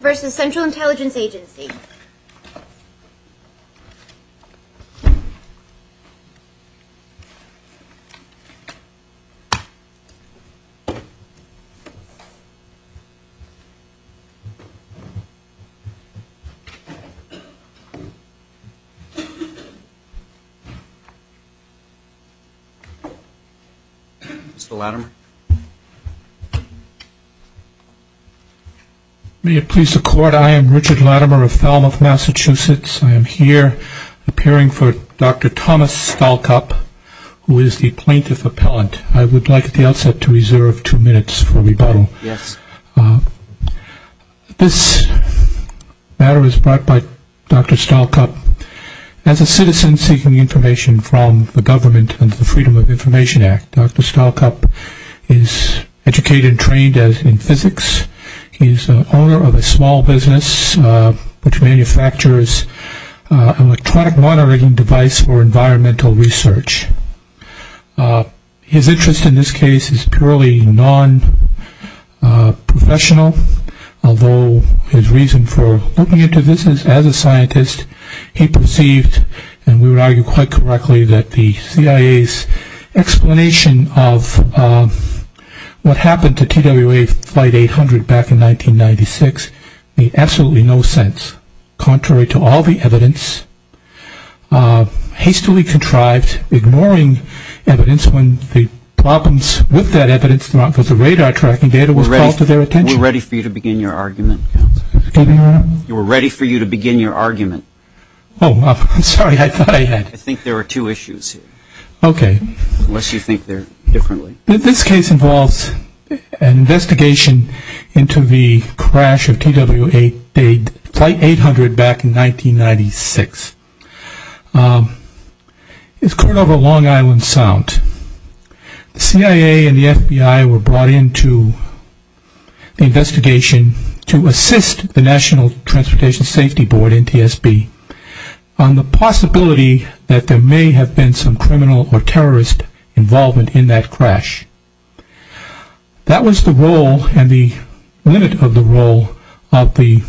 v. Central Intelligence Agency Mr. Latimer Richard Latimer Richard Latimer is an American scientist. He is educated and trained in physics. He is the owner of a small business which manufactures electronic monitoring devices for environmental research. His interest in this case is purely non-professional. Although his reason for looking into this is as a scientist, he perceived, and we would argue quite correctly, that the CIA's explanation of the use of electronic monitoring devices What happened to TWA Flight 800 back in 1996 made absolutely no sense. Contrary to all the evidence, hastily contrived, ignoring evidence when the problems with that evidence, not with the radar tracking data, was called to their attention. We're ready for you to begin your argument. Oh, I'm sorry, I thought I had. I think there are two issues here. This case involves an investigation into the crash of TWA Flight 800 back in 1996. It occurred over Long Island Sound. The CIA and the FBI were brought in to the investigation to assist the National Transportation Safety Board, NTSB, on the possibility that there may have been some criminal or terrorist involvement in that crash. That was the role, and the limit of the role, of the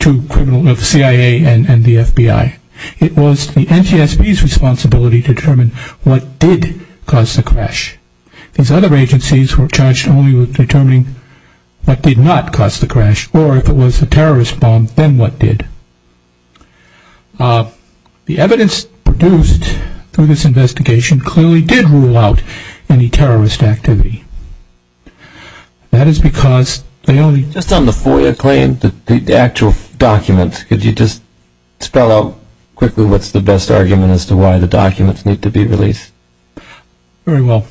CIA and the FBI. It was the NTSB's responsibility to determine what did cause the crash. These other agencies were charged only with determining what did not cause the crash, or if it was a terrorist bomb, then what did. The evidence produced through this investigation clearly did rule out any terrorist activity. That is because they only... Just on the FOIA claim, the actual document, could you just spell out quickly what's the best argument as to why the documents need to be released? Very well.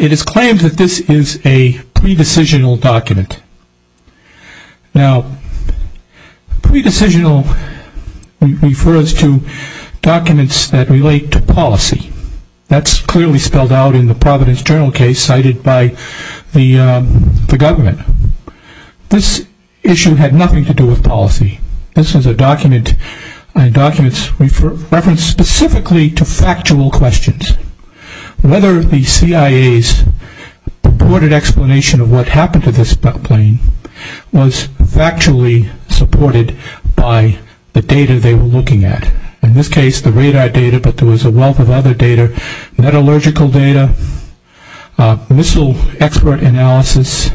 It is claimed that this is a pre-decisional document. Now, pre-decisional refers to documents that relate to policy. That's clearly spelled out in the Providence Journal case cited by the government. This issue had nothing to do with policy. This is a document referenced specifically to factual questions. Whether the CIA's purported explanation of what happened to this plane was factually supported by the data they were looking at. In this case, the radar data, but there was a wealth of other data, metallurgical data, missile expert analysis,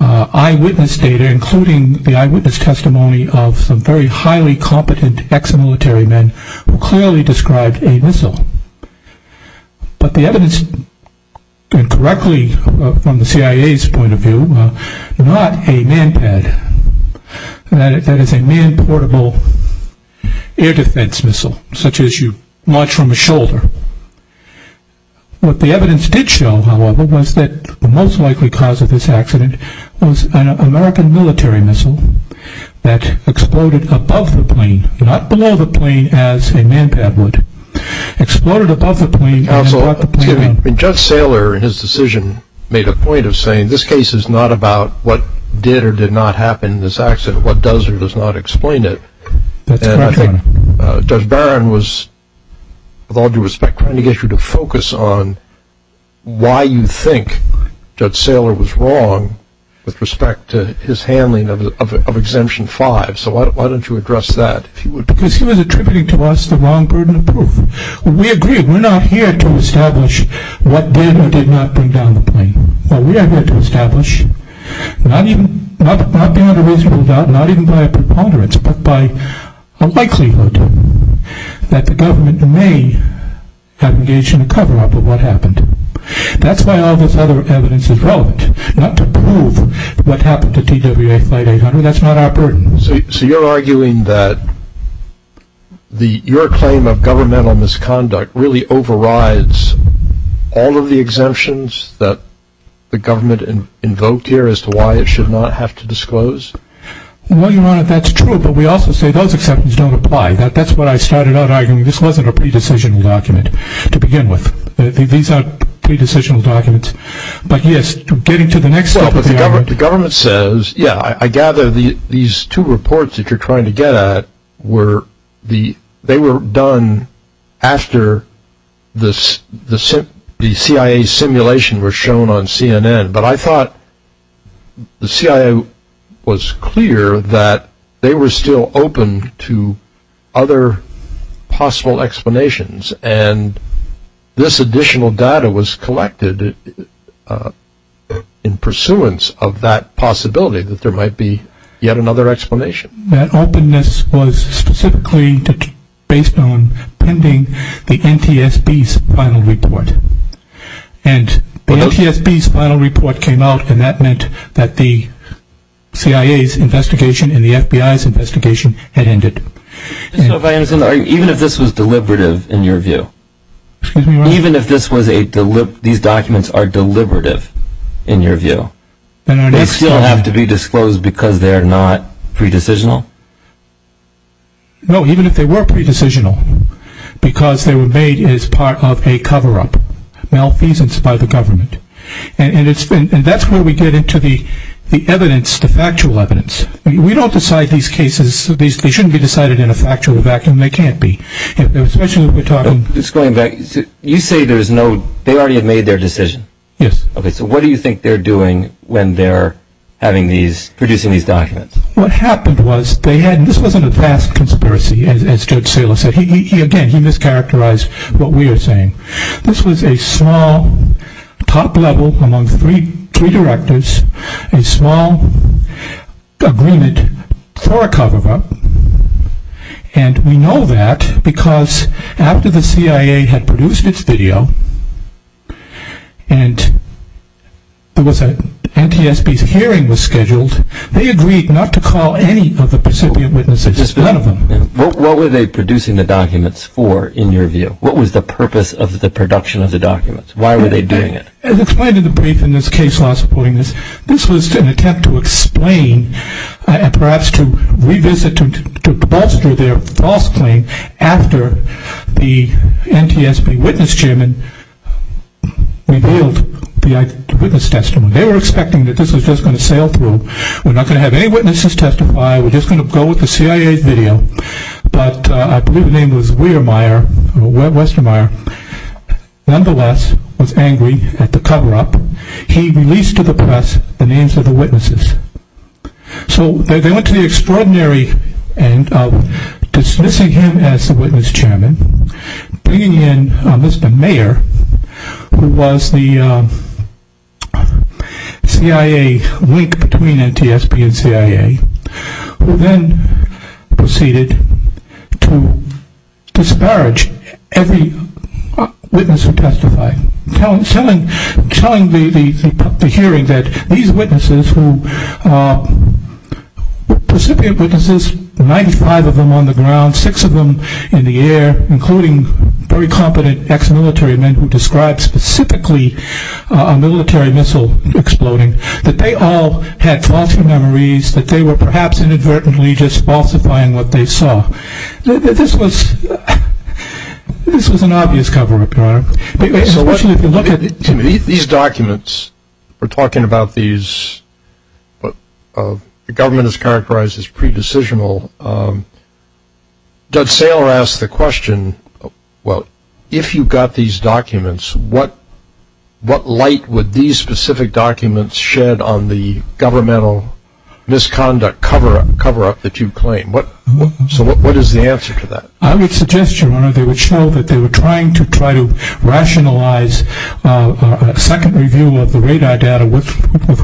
eyewitness data, including the eyewitness testimony of some very highly competent ex-military men, who clearly described a missile. But the evidence, and correctly from the CIA's point of view, not a man-pad. That is a man-portable air defense missile, such as you launch from a shoulder. What the evidence did show, however, was that the most likely cause of this accident was an American military missile that exploded above the plane, not below the plane as a man-pad would. Exploded above the plane. Judge Saylor, in his decision, made a point of saying this case is not about what did or did not happen in this accident, what does or does not explain it. Judge Barron was with all due respect trying to get you to focus on why you think Judge Saylor was wrong with respect to his handling of Exemption 5. So why don't you address that? Because he was attributing to us the wrong burden of proof. We agree, we're not here to establish what did or did not bring down the plane. What we are here to establish, not being under reasonable doubt, not even by a preponderance, but by a likelihood that the government may have engaged in a cover-up of what happened. That's why all this other evidence is relevant. Not to prove what happened to TWA Flight 800, that's not our burden. So you're arguing that your claim of governmental misconduct really overrides all of the exemptions that the government invoked here as to why it should not have to disclose? Well, Your Honor, that's true, but we also say those exemptions don't apply. That's what I started out arguing. This wasn't a pre-decisional document to begin with. These aren't pre-decisional documents. But yes, getting to the next step of the argument... Well, but the government says yeah, I gather these two reports that you're trying to get at they were done after the CIA simulation was shown on CNN, but I thought the CIA was clear that they were still open to other possible explanations, and this additional data was collected in pursuance of that possibility that there might be yet another explanation. That openness was specifically based on pending the NTSB's final report. And the NTSB's final report came out and that meant that the CIA's investigation and the FBI's investigation had ended. Even if this was deliberative in your view? Excuse me, Your Honor? Even if these documents are deliberative in your view, they still have to be disclosed because they're not pre-decisional? No, even if they were pre-decisional, because they were made as part of a cover-up malfeasance by the government. And that's where we get into the evidence, the factual evidence. We don't decide these cases, they shouldn't be decided in a factual vacuum, they can't be. You say there's no... They already have made their decision? Yes. Okay, so what do you think they're doing when they're having these, producing these documents? What happened was they had, this wasn't a vast conspiracy as Judge Saylor said, he again mischaracterized what we are saying. This was a small top level among three directors, a small agreement for a cover-up and we know that because after the CIA had produced its video, and there was a, NTSB's hearing was scheduled, they agreed not to call any of the recipient witnesses, just none of them. What were they producing the documents for, in your view? What was the purpose of the production of the documents? Why were they doing it? As explained in the brief in this case last point, this was an attempt to explain, and perhaps to revisit, to bolster their false claim after the NTSB witness chairman revealed the eyewitness testimony. They were expecting that this was just going to sail through. We're not going to have any witnesses testify, we're just going to go with the CIA's video, but I believe the name was Weiermeier, or Westermeier, nonetheless was angry at the cover-up. He released to the press the names of the witnesses. So they went to the extraordinary end of dismissing him as the witness chairman, bringing in Mr. Meier, who was the CIA link between NTSB and CIA, who then proceeded to disparage every witness who testified, telling the hearing that these witnesses who were Pacific witnesses, 95 of them on the ground, 6 of them in the air, including very competent ex-military men who described specifically a military missile exploding, that they all had false memories, that they were perhaps inadvertently just falsifying what they saw. This was an obvious cover-up, Your Honor. These documents, we're talking about these government is characterized as pre-decisional. Doug Saylor asked the question, well, if you got these documents, what light would these specific documents shed on the governmental misconduct cover-up that you claim? So what is the answer to that? I would suggest, Your Honor, they would show that they were trying to try to rationalize a second review of the radar data with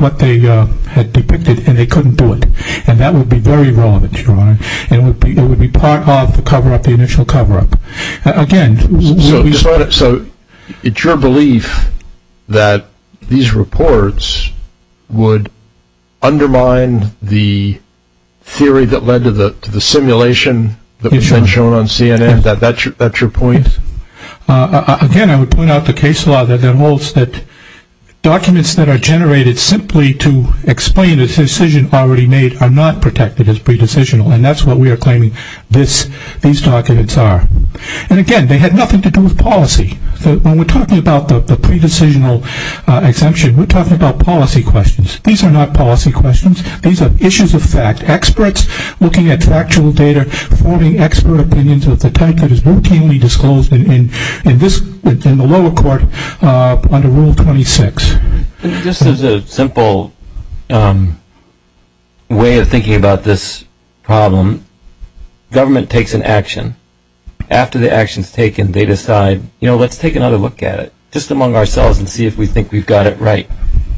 what they had depicted, and they couldn't do it. And that would be very relevant, Your Honor. It would be part of the cover-up, the initial cover-up. So, it's your belief that these reports would undermine the theory that led to the simulation that was then shown on CNN? That's your point? Again, I would point out the case law that holds that documents that are generated simply to explain a decision already made are not protected as pre-decisional, and that's what we are claiming these documents are. And again, they had nothing to do with policy. When we're talking about the pre-decisional exemption, we're talking about policy questions. These are not policy questions. These are issues of fact. Experts looking at factual data, forming expert opinions of the type that is routinely disclosed in this in the lower court under Rule 26. Just as a simple way of thinking about this problem, government takes an action. After the action is taken, they decide, you know, let's take another look at it. Just among ourselves and see if we think we've got it right.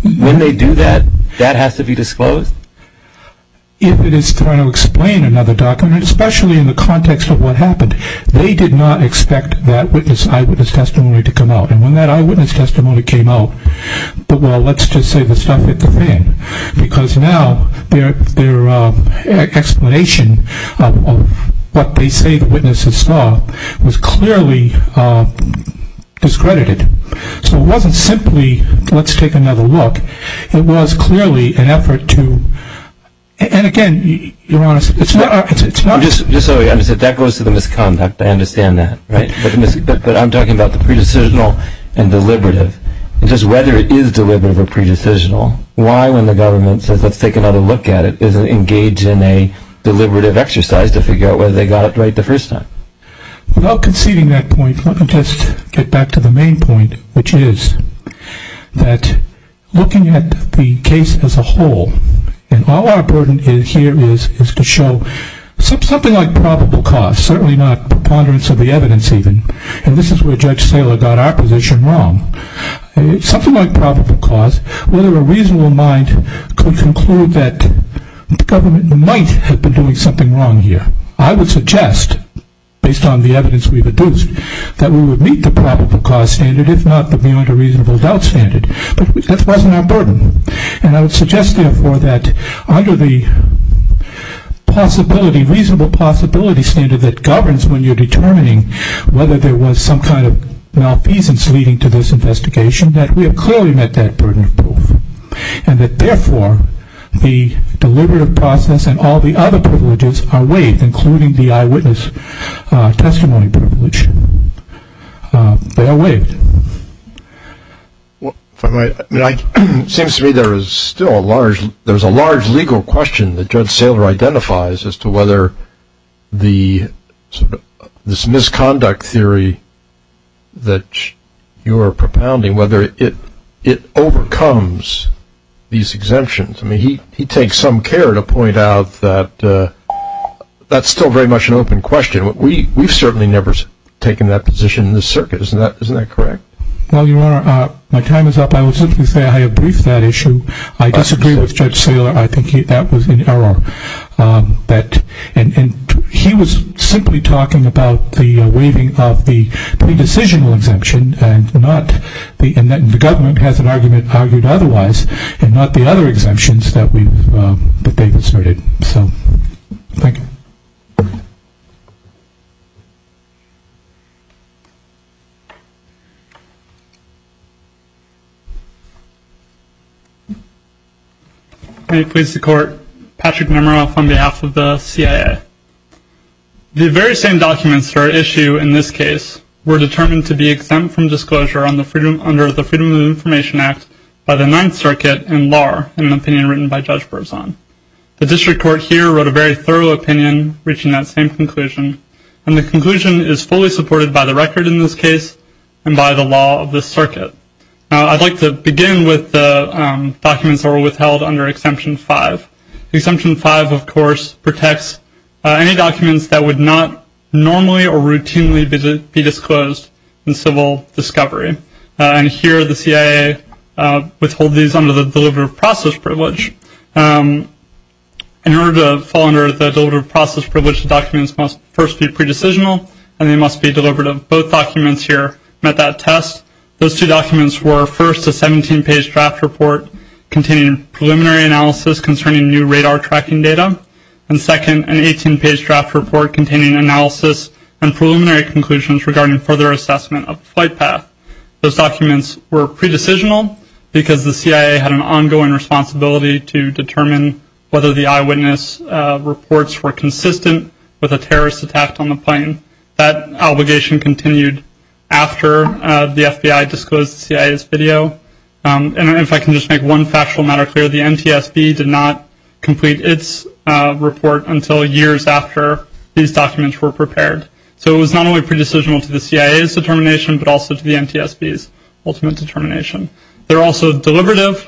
When they do that, that has to be disclosed? If it is trying to explain another document, especially in the context of what happened, they did not expect that eyewitness testimony to come out. And when that eyewitness testimony came out, well, let's just say the stuff hit the fan, because now their explanation of what they say the witnesses saw was clearly discredited. So it wasn't simply, let's take another look. It was clearly an effort to and again, Your Honor, it's not... That goes to the misconduct, I understand that. But I'm talking about the pre-decisional and deliberative. And just whether it is deliberative or pre-decisional, why when the government says let's take another look at it isn't engaged in a deliberative exercise to figure out whether they got it right the first time? Without conceding that point, let me just get back to the main point, which is that looking at the case as a whole, and all our burden here is to show something like probable cause, certainly not preponderance of the evidence even. And this is where Judge Saylor got our position wrong. Something like probable cause, whether a reasonable mind could conclude that the government might have been doing something wrong here. I would suggest, based on the evidence we've produced, that we would meet the probable cause standard, if not the beyond a reasonable doubt standard. But that wasn't our burden. And I would suggest, therefore, that under the possibility, reasonable possibility standard that governs when you're determining whether there was some kind of malfeasance leading to this investigation, that we have clearly met that burden of proof. And that, therefore, the deliberative process and all the other privileges are waived, including the eyewitness testimony privilege. They are waived. It seems to me there is still a large legal question that Judge Saylor identifies as to whether this misconduct theory that you're propounding, whether it overcomes these exemptions. He takes some care to point out that that's still very much an open question. We've certainly never taken that position in this circuit. Isn't that correct? Well, Your Honor, my time is up. I will simply say I have briefed that issue. I disagree with Judge Saylor. I think that was an error. He was simply talking about the waiving of the pre-decisional exemption and not the government has an argument argued otherwise and not the other exemptions that they've asserted. So, thank you. May it please the Court, Patrick Nemeroff on behalf of the CIA. The very same documents for issue in this case were determined to be exempt from disclosure under the Freedom of Information Act by the Ninth Circuit and LAR, an opinion written by Judge Berzon. The District Court here wrote a very thorough opinion reaching that same conclusion and the conclusion is fully supported by the record in this case and by the law of this circuit. I'd like to begin with the documents that were withheld under Exemption 5. Exemption 5, of course, protects any documents that would not normally or routinely be disclosed in civil discovery. And here the CIA withhold these under the Delivered Process Privilege. In order to fall under the Delivered Process Privilege, the documents must first be pre-decisional and they must be delivered of both documents here met that test. Those two documents were first a 17-page draft report containing preliminary analysis concerning new radar tracking data and second an 18-page draft report containing analysis and preliminary conclusions regarding further assessment of the flight path. Those documents were pre-decisional because the CIA had an ongoing responsibility to determine whether the eyewitness reports were consistent with a terrorist attack on the plane. That obligation continued after the FBI disclosed the CIA's video. And if I can just make one factual matter clear, the NTSB did not complete its report until years after these documents were prepared. So it was not only pre-decisional to the CIA's determination but also to the NTSB's ultimate determination. They're also deliberative.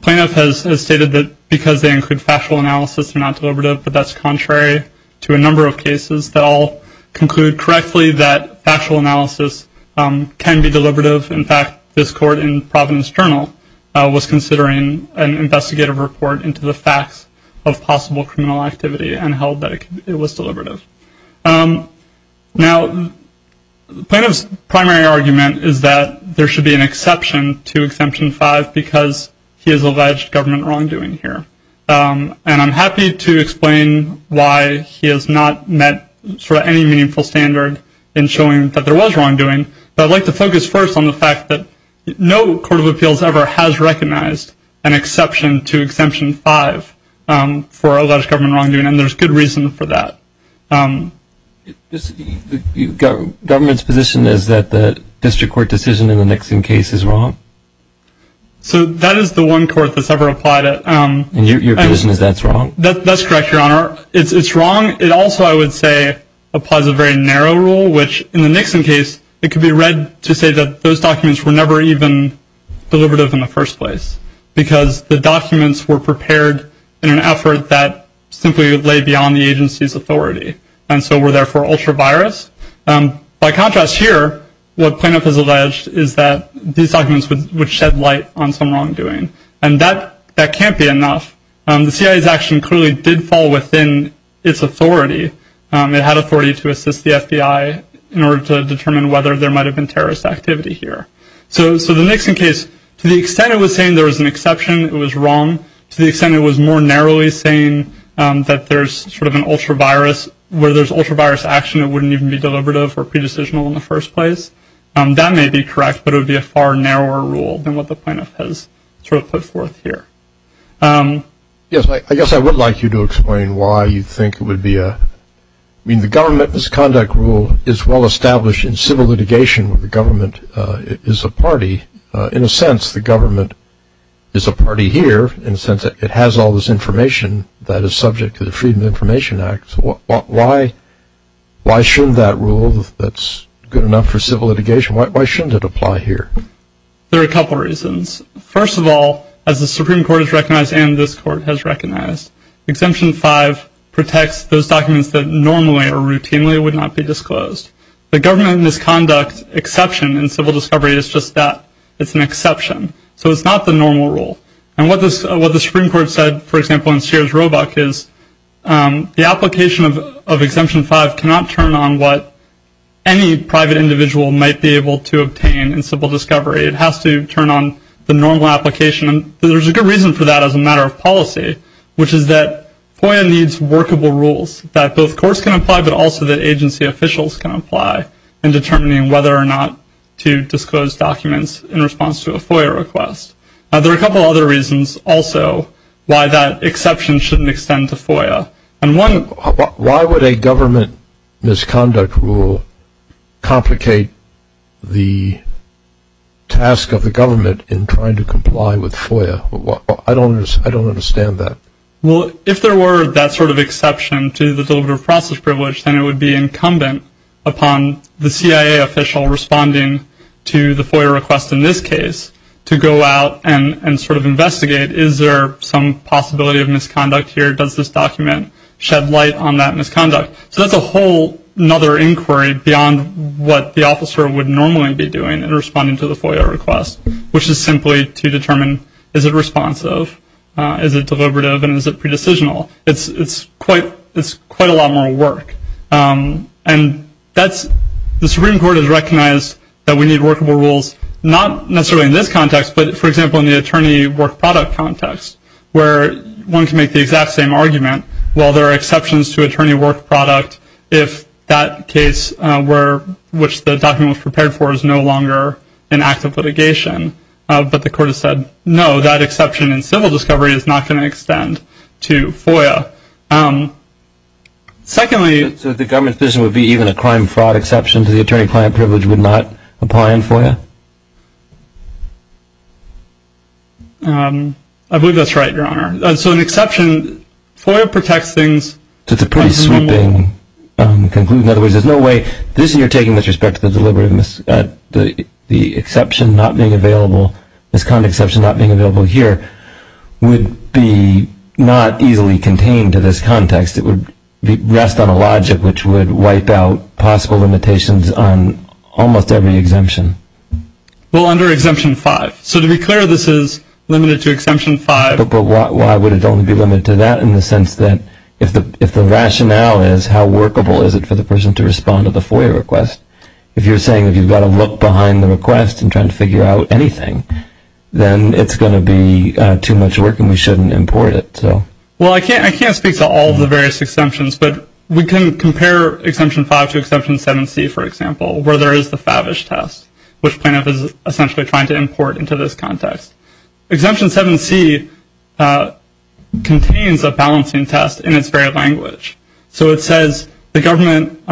Plaintiff has stated that because they include factual analysis, they're not deliberative, but that's contrary to a number of cases that all conclude correctly that factual analysis can be deliberative. In fact, this court in Providence Journal was considering an investigative report into the facts of possible criminal activity and held that it was deliberative. Now, Plaintiff's primary argument is that there should be an exception to Exemption 5 because he has alleged government wrongdoing here. And I'm happy to explain why he has not met sort of any meaningful standard in showing that there was wrongdoing, but I'd like to focus first on the fact that no Court of Appeals ever has recognized an exception to Exemption 5 for alleged government wrongdoing, and there's good reason for that. The government's position is that the district court decision in the Nixon case is wrong? So that is the one court that's ever applied it. And your position is that's wrong? That's correct, Your Honor. It's wrong. It also, I would say, applies a very narrow rule, which in the Nixon case it could be read to say that those documents were never even deliberative in the first place because the documents were prepared in an effort that simply would lay beyond the agency's authority, and so were therefore ultra-virus. By contrast here, what Plaintiff has said would shed light on some wrongdoing, and that can't be enough. The CIA's action clearly did fall within its authority. It had authority to assist the FBI in order to determine whether there might have been terrorist activity here. So the Nixon case, to the extent it was saying there was an exception, it was wrong. To the extent it was more narrowly saying that there's sort of an ultra-virus, where there's ultra-virus action, it wouldn't even be deliberative or pre-decisional in the first place. That may be correct, but it would be a far narrower rule than what the Plaintiff has sort of put forth here. Yes, I guess I would like you to explain why you think it would be a... I mean, the government misconduct rule is well established in civil litigation where the government is a party. In a sense, the government is a party here in the sense that it has all this information that is subject to the Freedom of Information Act. Why shouldn't that rule that's good enough for civil litigation, why shouldn't it apply here? There are a couple reasons. First of all, as the Supreme Court has recognized and this Court has recognized, Exemption 5 protects those documents that normally or routinely would not be disclosed. The government misconduct exception in civil discovery is just that. It's an exception. So it's not the normal rule. And what the Supreme Court said, for example, in Sears Roebuck is the application of Exemption 5 cannot turn on what any private individual might be able to obtain in civil discovery. It has to turn on the normal application and there's a good reason for that as a matter of policy, which is that FOIA needs workable rules that both courts can apply, but also that agency officials can apply in determining whether or not to disclose documents in response to a FOIA request. Now, there are a couple other reasons also why that exception shouldn't extend to FOIA. Why would a government misconduct rule complicate the task of the government in trying to comply with FOIA? I don't understand that. Well, if there were that sort of exception to the Deliverable Process Privilege, then it would be incumbent upon the CIA official responding to the FOIA request in this case to go out and sort of investigate, is there some possibility of misconduct here? Does this document shed light on that misconduct? So that's a whole other inquiry beyond what the officer would normally be doing in responding to the FOIA request, which is simply to determine, is it responsive, is it deliberative, and is it pre-decisional? It's quite a lot more work. And the Supreme Court has recognized that we need workable rules, not necessarily in this context, but for example, in the attorney work product context, where one can make the exact same argument, well, there are exceptions to attorney work product if that case which the document was prepared for is no longer an act of litigation. But the Court has said, no, that exception in civil discovery is not going to extend to FOIA. Secondly... So the government's position would be even a crime-fraud exception to the attorney client privilege would not apply in FOIA? I believe that's right, Your Honor. So an exception, FOIA protects things... That's a pretty sweeping conclusion. In other words, there's no way this you're taking with respect to the deliberative, the exception not being available, misconduct exception not being available here, would be not easily contained to this context. It would rest on a logic which would wipe out possible limitations on almost every exemption. Well, under Exemption 5. So to be clear, this is limited to Exemption 5. But why would it only be limited to that in the sense that if the rationale is how workable is it for the person to respond to the FOIA request? If you're saying that you've got to look behind the request and try to figure out anything, then it's going to be too much work and we shouldn't import it. Well, I can't speak to all of the various exemptions, but we can compare Exemption 5 to the Favish test, which plaintiff is essentially trying to import into this context. Exemption 7C contains a balancing test in its very language. So it says the government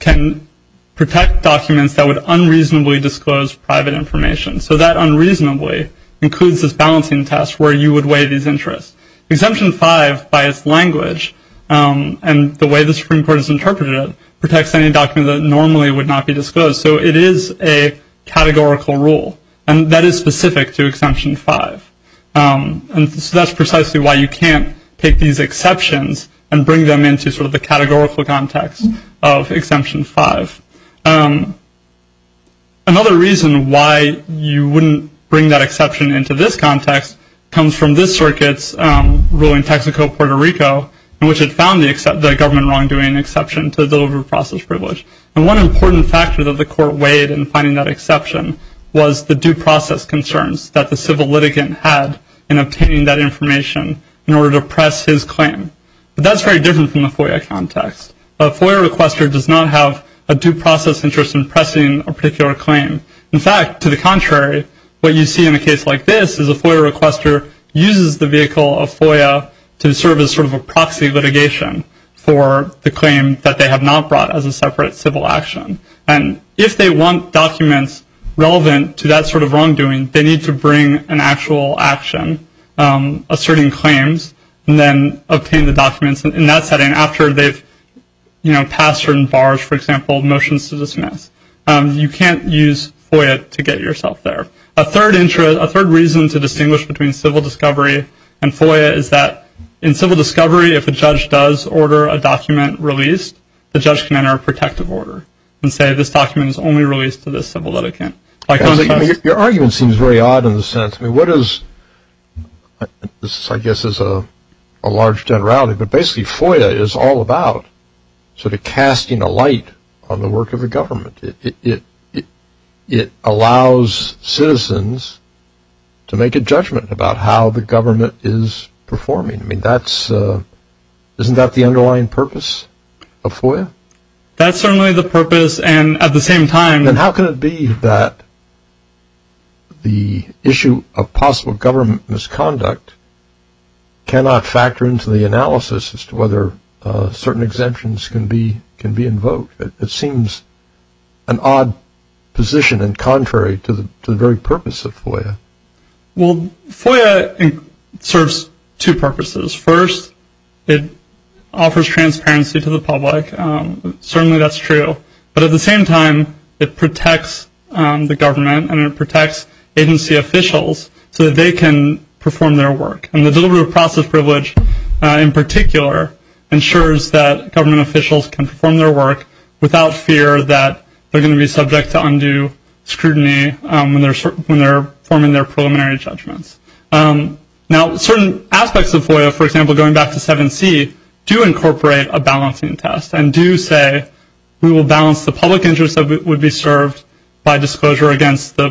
can protect documents that would unreasonably disclose private information. So that unreasonably includes this balancing test where you would weigh these interests. Exemption 5, by its language, and the way the Supreme Court has interpreted it, it is a categorical rule, and that is specific to Exemption 5. So that's precisely why you can't take these exceptions and bring them into sort of the categorical context of Exemption 5. Another reason why you wouldn't bring that exception into this context comes from this circuit's ruling, Texaco-Puerto Rico, in which it found the government wrongdoing exception to deliver process privilege. And one important factor that the court weighed in finding that exception was the due process concerns that the civil litigant had in obtaining that information in order to press his claim. But that's very different from the FOIA context. A FOIA requester does not have a due process interest in pressing a particular claim. In fact, to the contrary, what you see in a case like this is a FOIA requester uses the vehicle of FOIA to serve as sort of a proxy litigation for the claim that they have not brought as a separate civil action. And if they want documents relevant to that sort of wrongdoing, they need to bring an actual action asserting claims and then obtain the documents in that setting after they've passed certain bars, for example, motions to dismiss. You can't use FOIA to get yourself there. A third reason to distinguish between civil discovery and FOIA is that in civil discovery, if a judge does order a document released, the judge can enter a protective order and say this document is only released to this civil litigant. Your argument seems very odd in the sense, I mean, what is this I guess is a large generality, but basically FOIA is all about sort of casting a light on the work of the government. It allows citizens to make a judgment about how the government is performing. I mean, that's, isn't that the underlying purpose of FOIA? That's certainly the purpose and at the same time. Then how can it be that the issue of possible government misconduct cannot factor into the analysis as to whether certain exemptions can be invoked? It seems an odd position and contrary to the very purpose of FOIA. Well, FOIA serves two purposes. First, it offers transparency to the public. Certainly that's true. But at the same time, it protects the government and it protects agency officials so that they can perform their work. And the delivery of process privilege in particular ensures that government officials can perform their work without fear that they're going to be subject to undue scrutiny when they're forming their preliminary judgments. Now certain aspects of FOIA, for example, going back to 7C, do incorporate a balancing test and do say we will balance the public interest that would be served by disclosure against the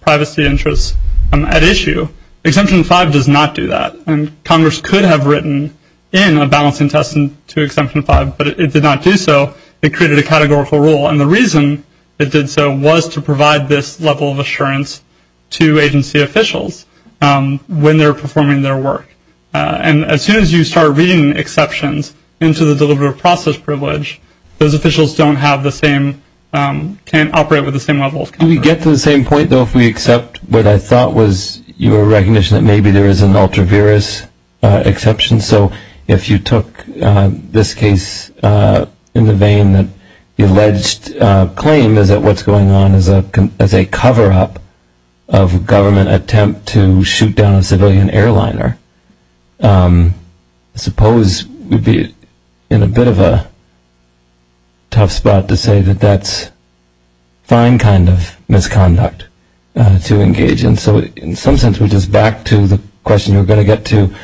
privacy interests at issue. Exemption 5 does not do that and Congress could have written in a balancing test to Exemption 5, but it did not do so. It created a categorical rule and the reason it did so was to provide this level of assurance to agency officials when they're performing their work. And as soon as you start reading exceptions into the delivery of process privilege, those officials don't have the same, can't operate with the same level of coverage. Do we get to the same point, though, if we accept what I thought was your recognition that maybe there is an ultra-virus exception? So if you took this case in the vein that the alleged claim is that what's going on is a cover-up of government attempt to shoot down a civilian airliner, I suppose we'd be in a bit of a tough spot to say that that's fine kind of misconduct to engage in. So in some sense we're just back to the question you were going to get to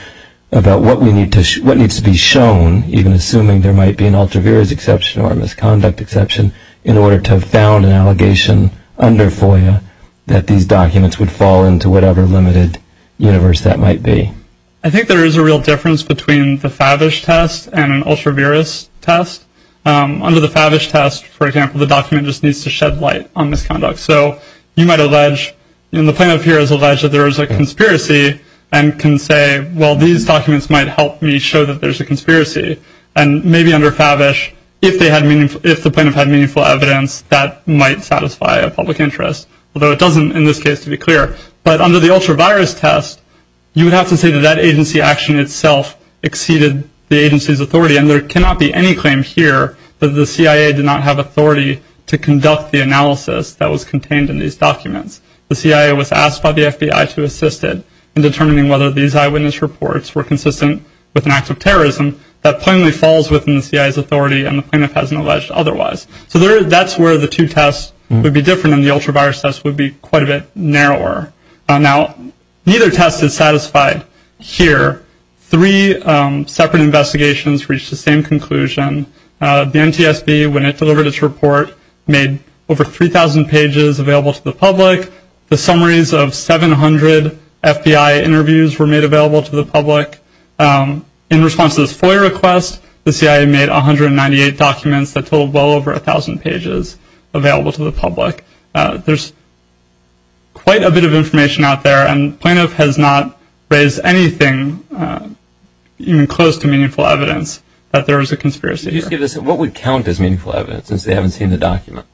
about what needs to be shown, even assuming there might be an ultra-virus exception or a misconduct exception, in order to found an allegation under FOIA that these documents would fall into whatever limited universe that might be. I think there is a real difference between the Favish test and an ultra-virus test. Under the Favish test, for example, the document just needs to shed light on misconduct. So you might allege, and the plaintiff here has alleged that there is a conspiracy and can say, well, these documents might help me show that there's a conspiracy. And maybe under Favish, if the plaintiff had meaningful evidence, that might satisfy a public interest. Although it doesn't in this case, to be clear. But under the ultra-virus test, you would have to say that that agency action itself exceeded the agency's authority. And there cannot be any claim here that the CIA did not have authority to conduct the analysis that was contained in these documents. The CIA was asked by the FBI to assist it in determining whether these eyewitness reports were consistent with an act of terrorism that plainly falls within the CIA's authority and the plaintiff hasn't alleged otherwise. So that's where the two tests would be different, and the ultra-virus test would be quite a bit narrower. Now, neither test is satisfied here. Three separate investigations reached the same conclusion. The NTSB, when it delivered its report, made over 3,000 pages available to the public. The summaries of 700 FBI interviews were made available to the public. In response to this FOIA request, the CIA made 198 documents that totaled well over 1,000 pages available to the public. There's quite a bit of information out there, and the plaintiff has not raised anything even close to meaningful evidence that there was a conspiracy here. What would count as meaningful evidence, since they haven't seen the document?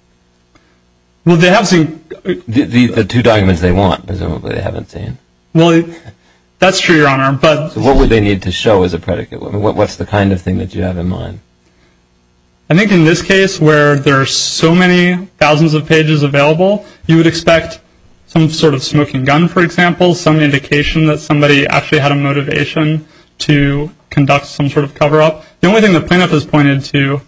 Well, they have seen... The two documents they want, presumably, they haven't seen. Well, that's true, Your Honor, but... So what would they need to show as a predicate? What's the kind of thing that you have in mind? I think in this case, where there are so many thousands of pages available, you would expect some sort of smoking gun, for example, some indication that somebody actually had a motivation to conduct some sort of cover-up. The only thing the plaintiff has pointed to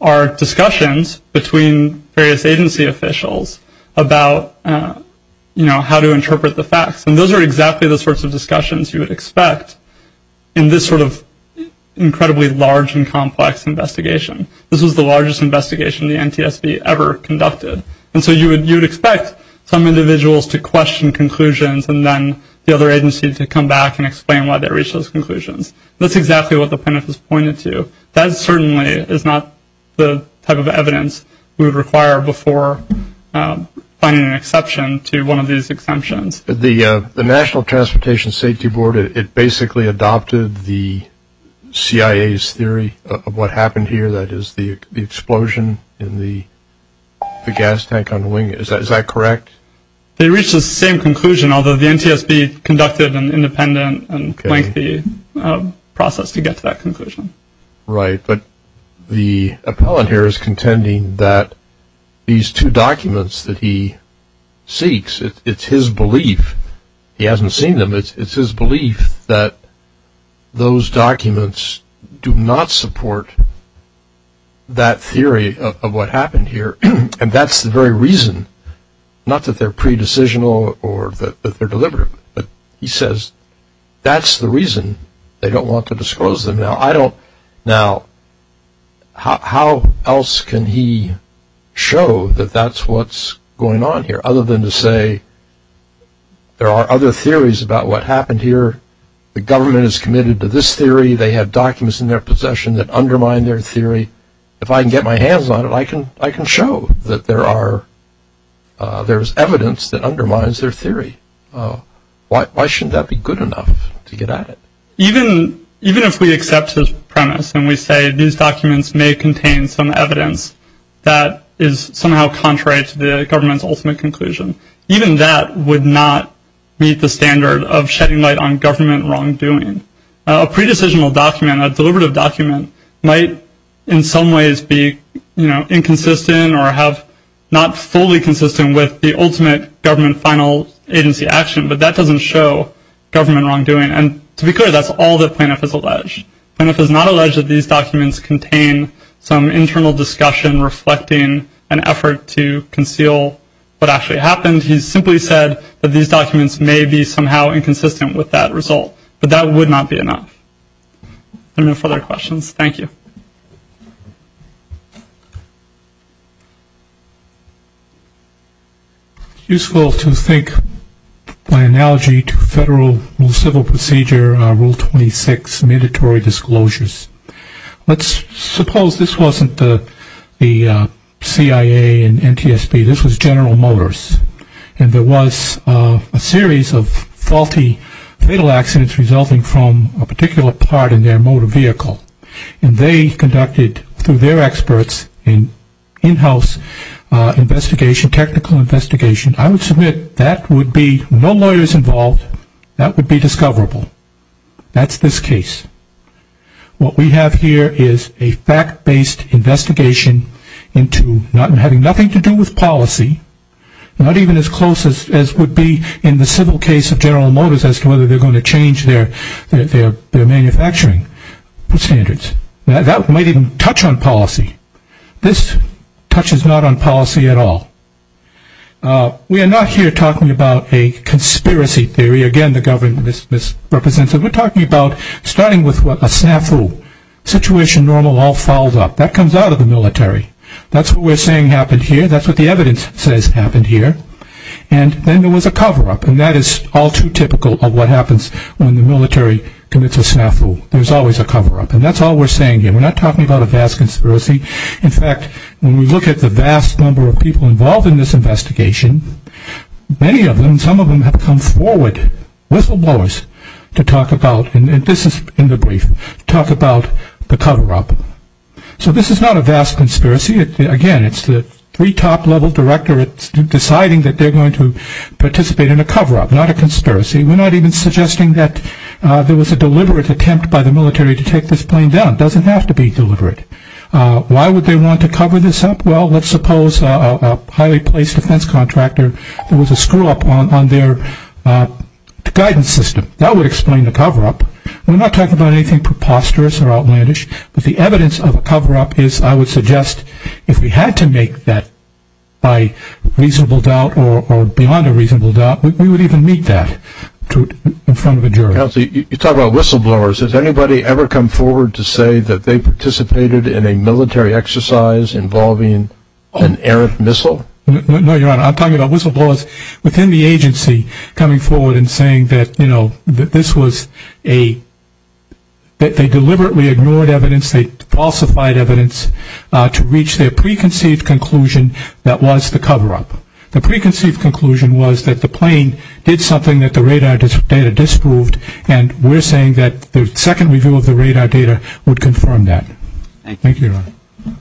are discussions between various agency officials about, you know, how to interpret the facts. And those are exactly the sorts of discussions you would expect in this sort of incredibly large and complex investigation. This was the largest investigation the NTSB ever conducted. And so you would expect some individuals to question conclusions and then the other agency to come back and explain why they reached those conclusions. That's exactly what the plaintiff has pointed to. That certainly is not the type of evidence we would require before finding an exception to one of these exemptions. The National Transportation Safety Board, it basically adopted the CIA's theory of what happened here, that is, the explosion in the gas tank on the wing. Is that correct? They reached the same conclusion, although the NTSB conducted an independent and lengthy process to get to that conclusion. Right, but the appellant here is contending that these two documents that he seeks, it's his belief, he hasn't seen them, it's his belief that those documents do not support that theory of what happened here. And that's the very reason, not that they're pre-decisional or that they're deliberate, but he says that's the reason they don't want to disclose them. Now, how else can he show that that's what's going on here, other than to say there are other theories about what happened here, the government is committed to this theory, they have documents in their possession that undermine their theory. If I can get my hands on it, I can show that there's evidence that undermines their theory. Why shouldn't that be good enough to get at it? Even if we accept his premise and we say these documents may contain some evidence that is somehow contrary to the government's ultimate conclusion, even that would not meet the standard of shedding light on government wrongdoing. A pre-decisional document, a deliberative document, might in some ways be inconsistent or have not fully consistent with the ultimate government final agency action, but that doesn't show government wrongdoing. And to be clear, that's all that Planoff has alleged. Planoff has not alleged that these documents contain some internal discussion reflecting an effort to conceal what actually happened. He's simply said that these documents may be somehow inconsistent with that result. But that would not be enough. Any further questions? Thank you. It's useful to think by analogy to Federal Civil Procedure Rule 26, mandatory disclosures. Let's suppose this wasn't the CIA and NTSB, this was General Motors, and there was a series of faulty fatal accidents resulting from a particular part in their motor vehicle. And they conducted, through their experts, an in-house investigation, technical investigation. I would submit that would be no lawyers involved, that would be discoverable. That's this case. What we have here is a fact-based investigation into having nothing to do with policy, not even as close as would be in the civil case of General Motors as to whether they're going to change their manufacturing standards. That might even touch on policy. This touches not on policy at all. We are not here talking about a conspiracy theory. Again, the government misrepresents it. We're talking about starting with a snafu. Situation normal all follows up. That comes out of the military. That's what we're saying happened here. That's what the evidence says happened here. And then there was a cover-up, and that is all too typical of what happens when the military commits a snafu. There's always a cover-up, and that's all we're saying here. We're not talking about a vast conspiracy. In fact, when we look at the vast number of people involved in this investigation, many of them, some of them have come forward with the lawyers to talk about, and this is in the brief, talk about the cover-up. So this is not a vast conspiracy. Again, it's the three top-level directorates deciding that they're going to participate in a cover-up, not a conspiracy. We're not even suggesting that there was a deliberate attempt by the military to take this plane down. It doesn't have to be deliberate. Why would they want to cover this up? Well, let's suppose a highly placed defense contractor, there was a screw-up on their guidance system. That would explain the cover-up. We're not talking about anything preposterous or outlandish, but the evidence of a cover-up is, I would suggest, if we had to make that by reasonable doubt or beyond a reasonable doubt, we would even meet that in front of a jury. Counsel, you talk about whistleblowers. Has anybody ever come forward to say that they participated in a military exercise involving an errant missile? No, Your Honor, I'm talking about whistleblowers within the agency coming forward and saying that they deliberately ignored evidence, they falsified evidence to reach their preconceived conclusion that was the cover-up. The preconceived conclusion was that the plane did something that the radar data disproved, and we're saying that the second review of the radar data would confirm that. Thank you, Your Honor.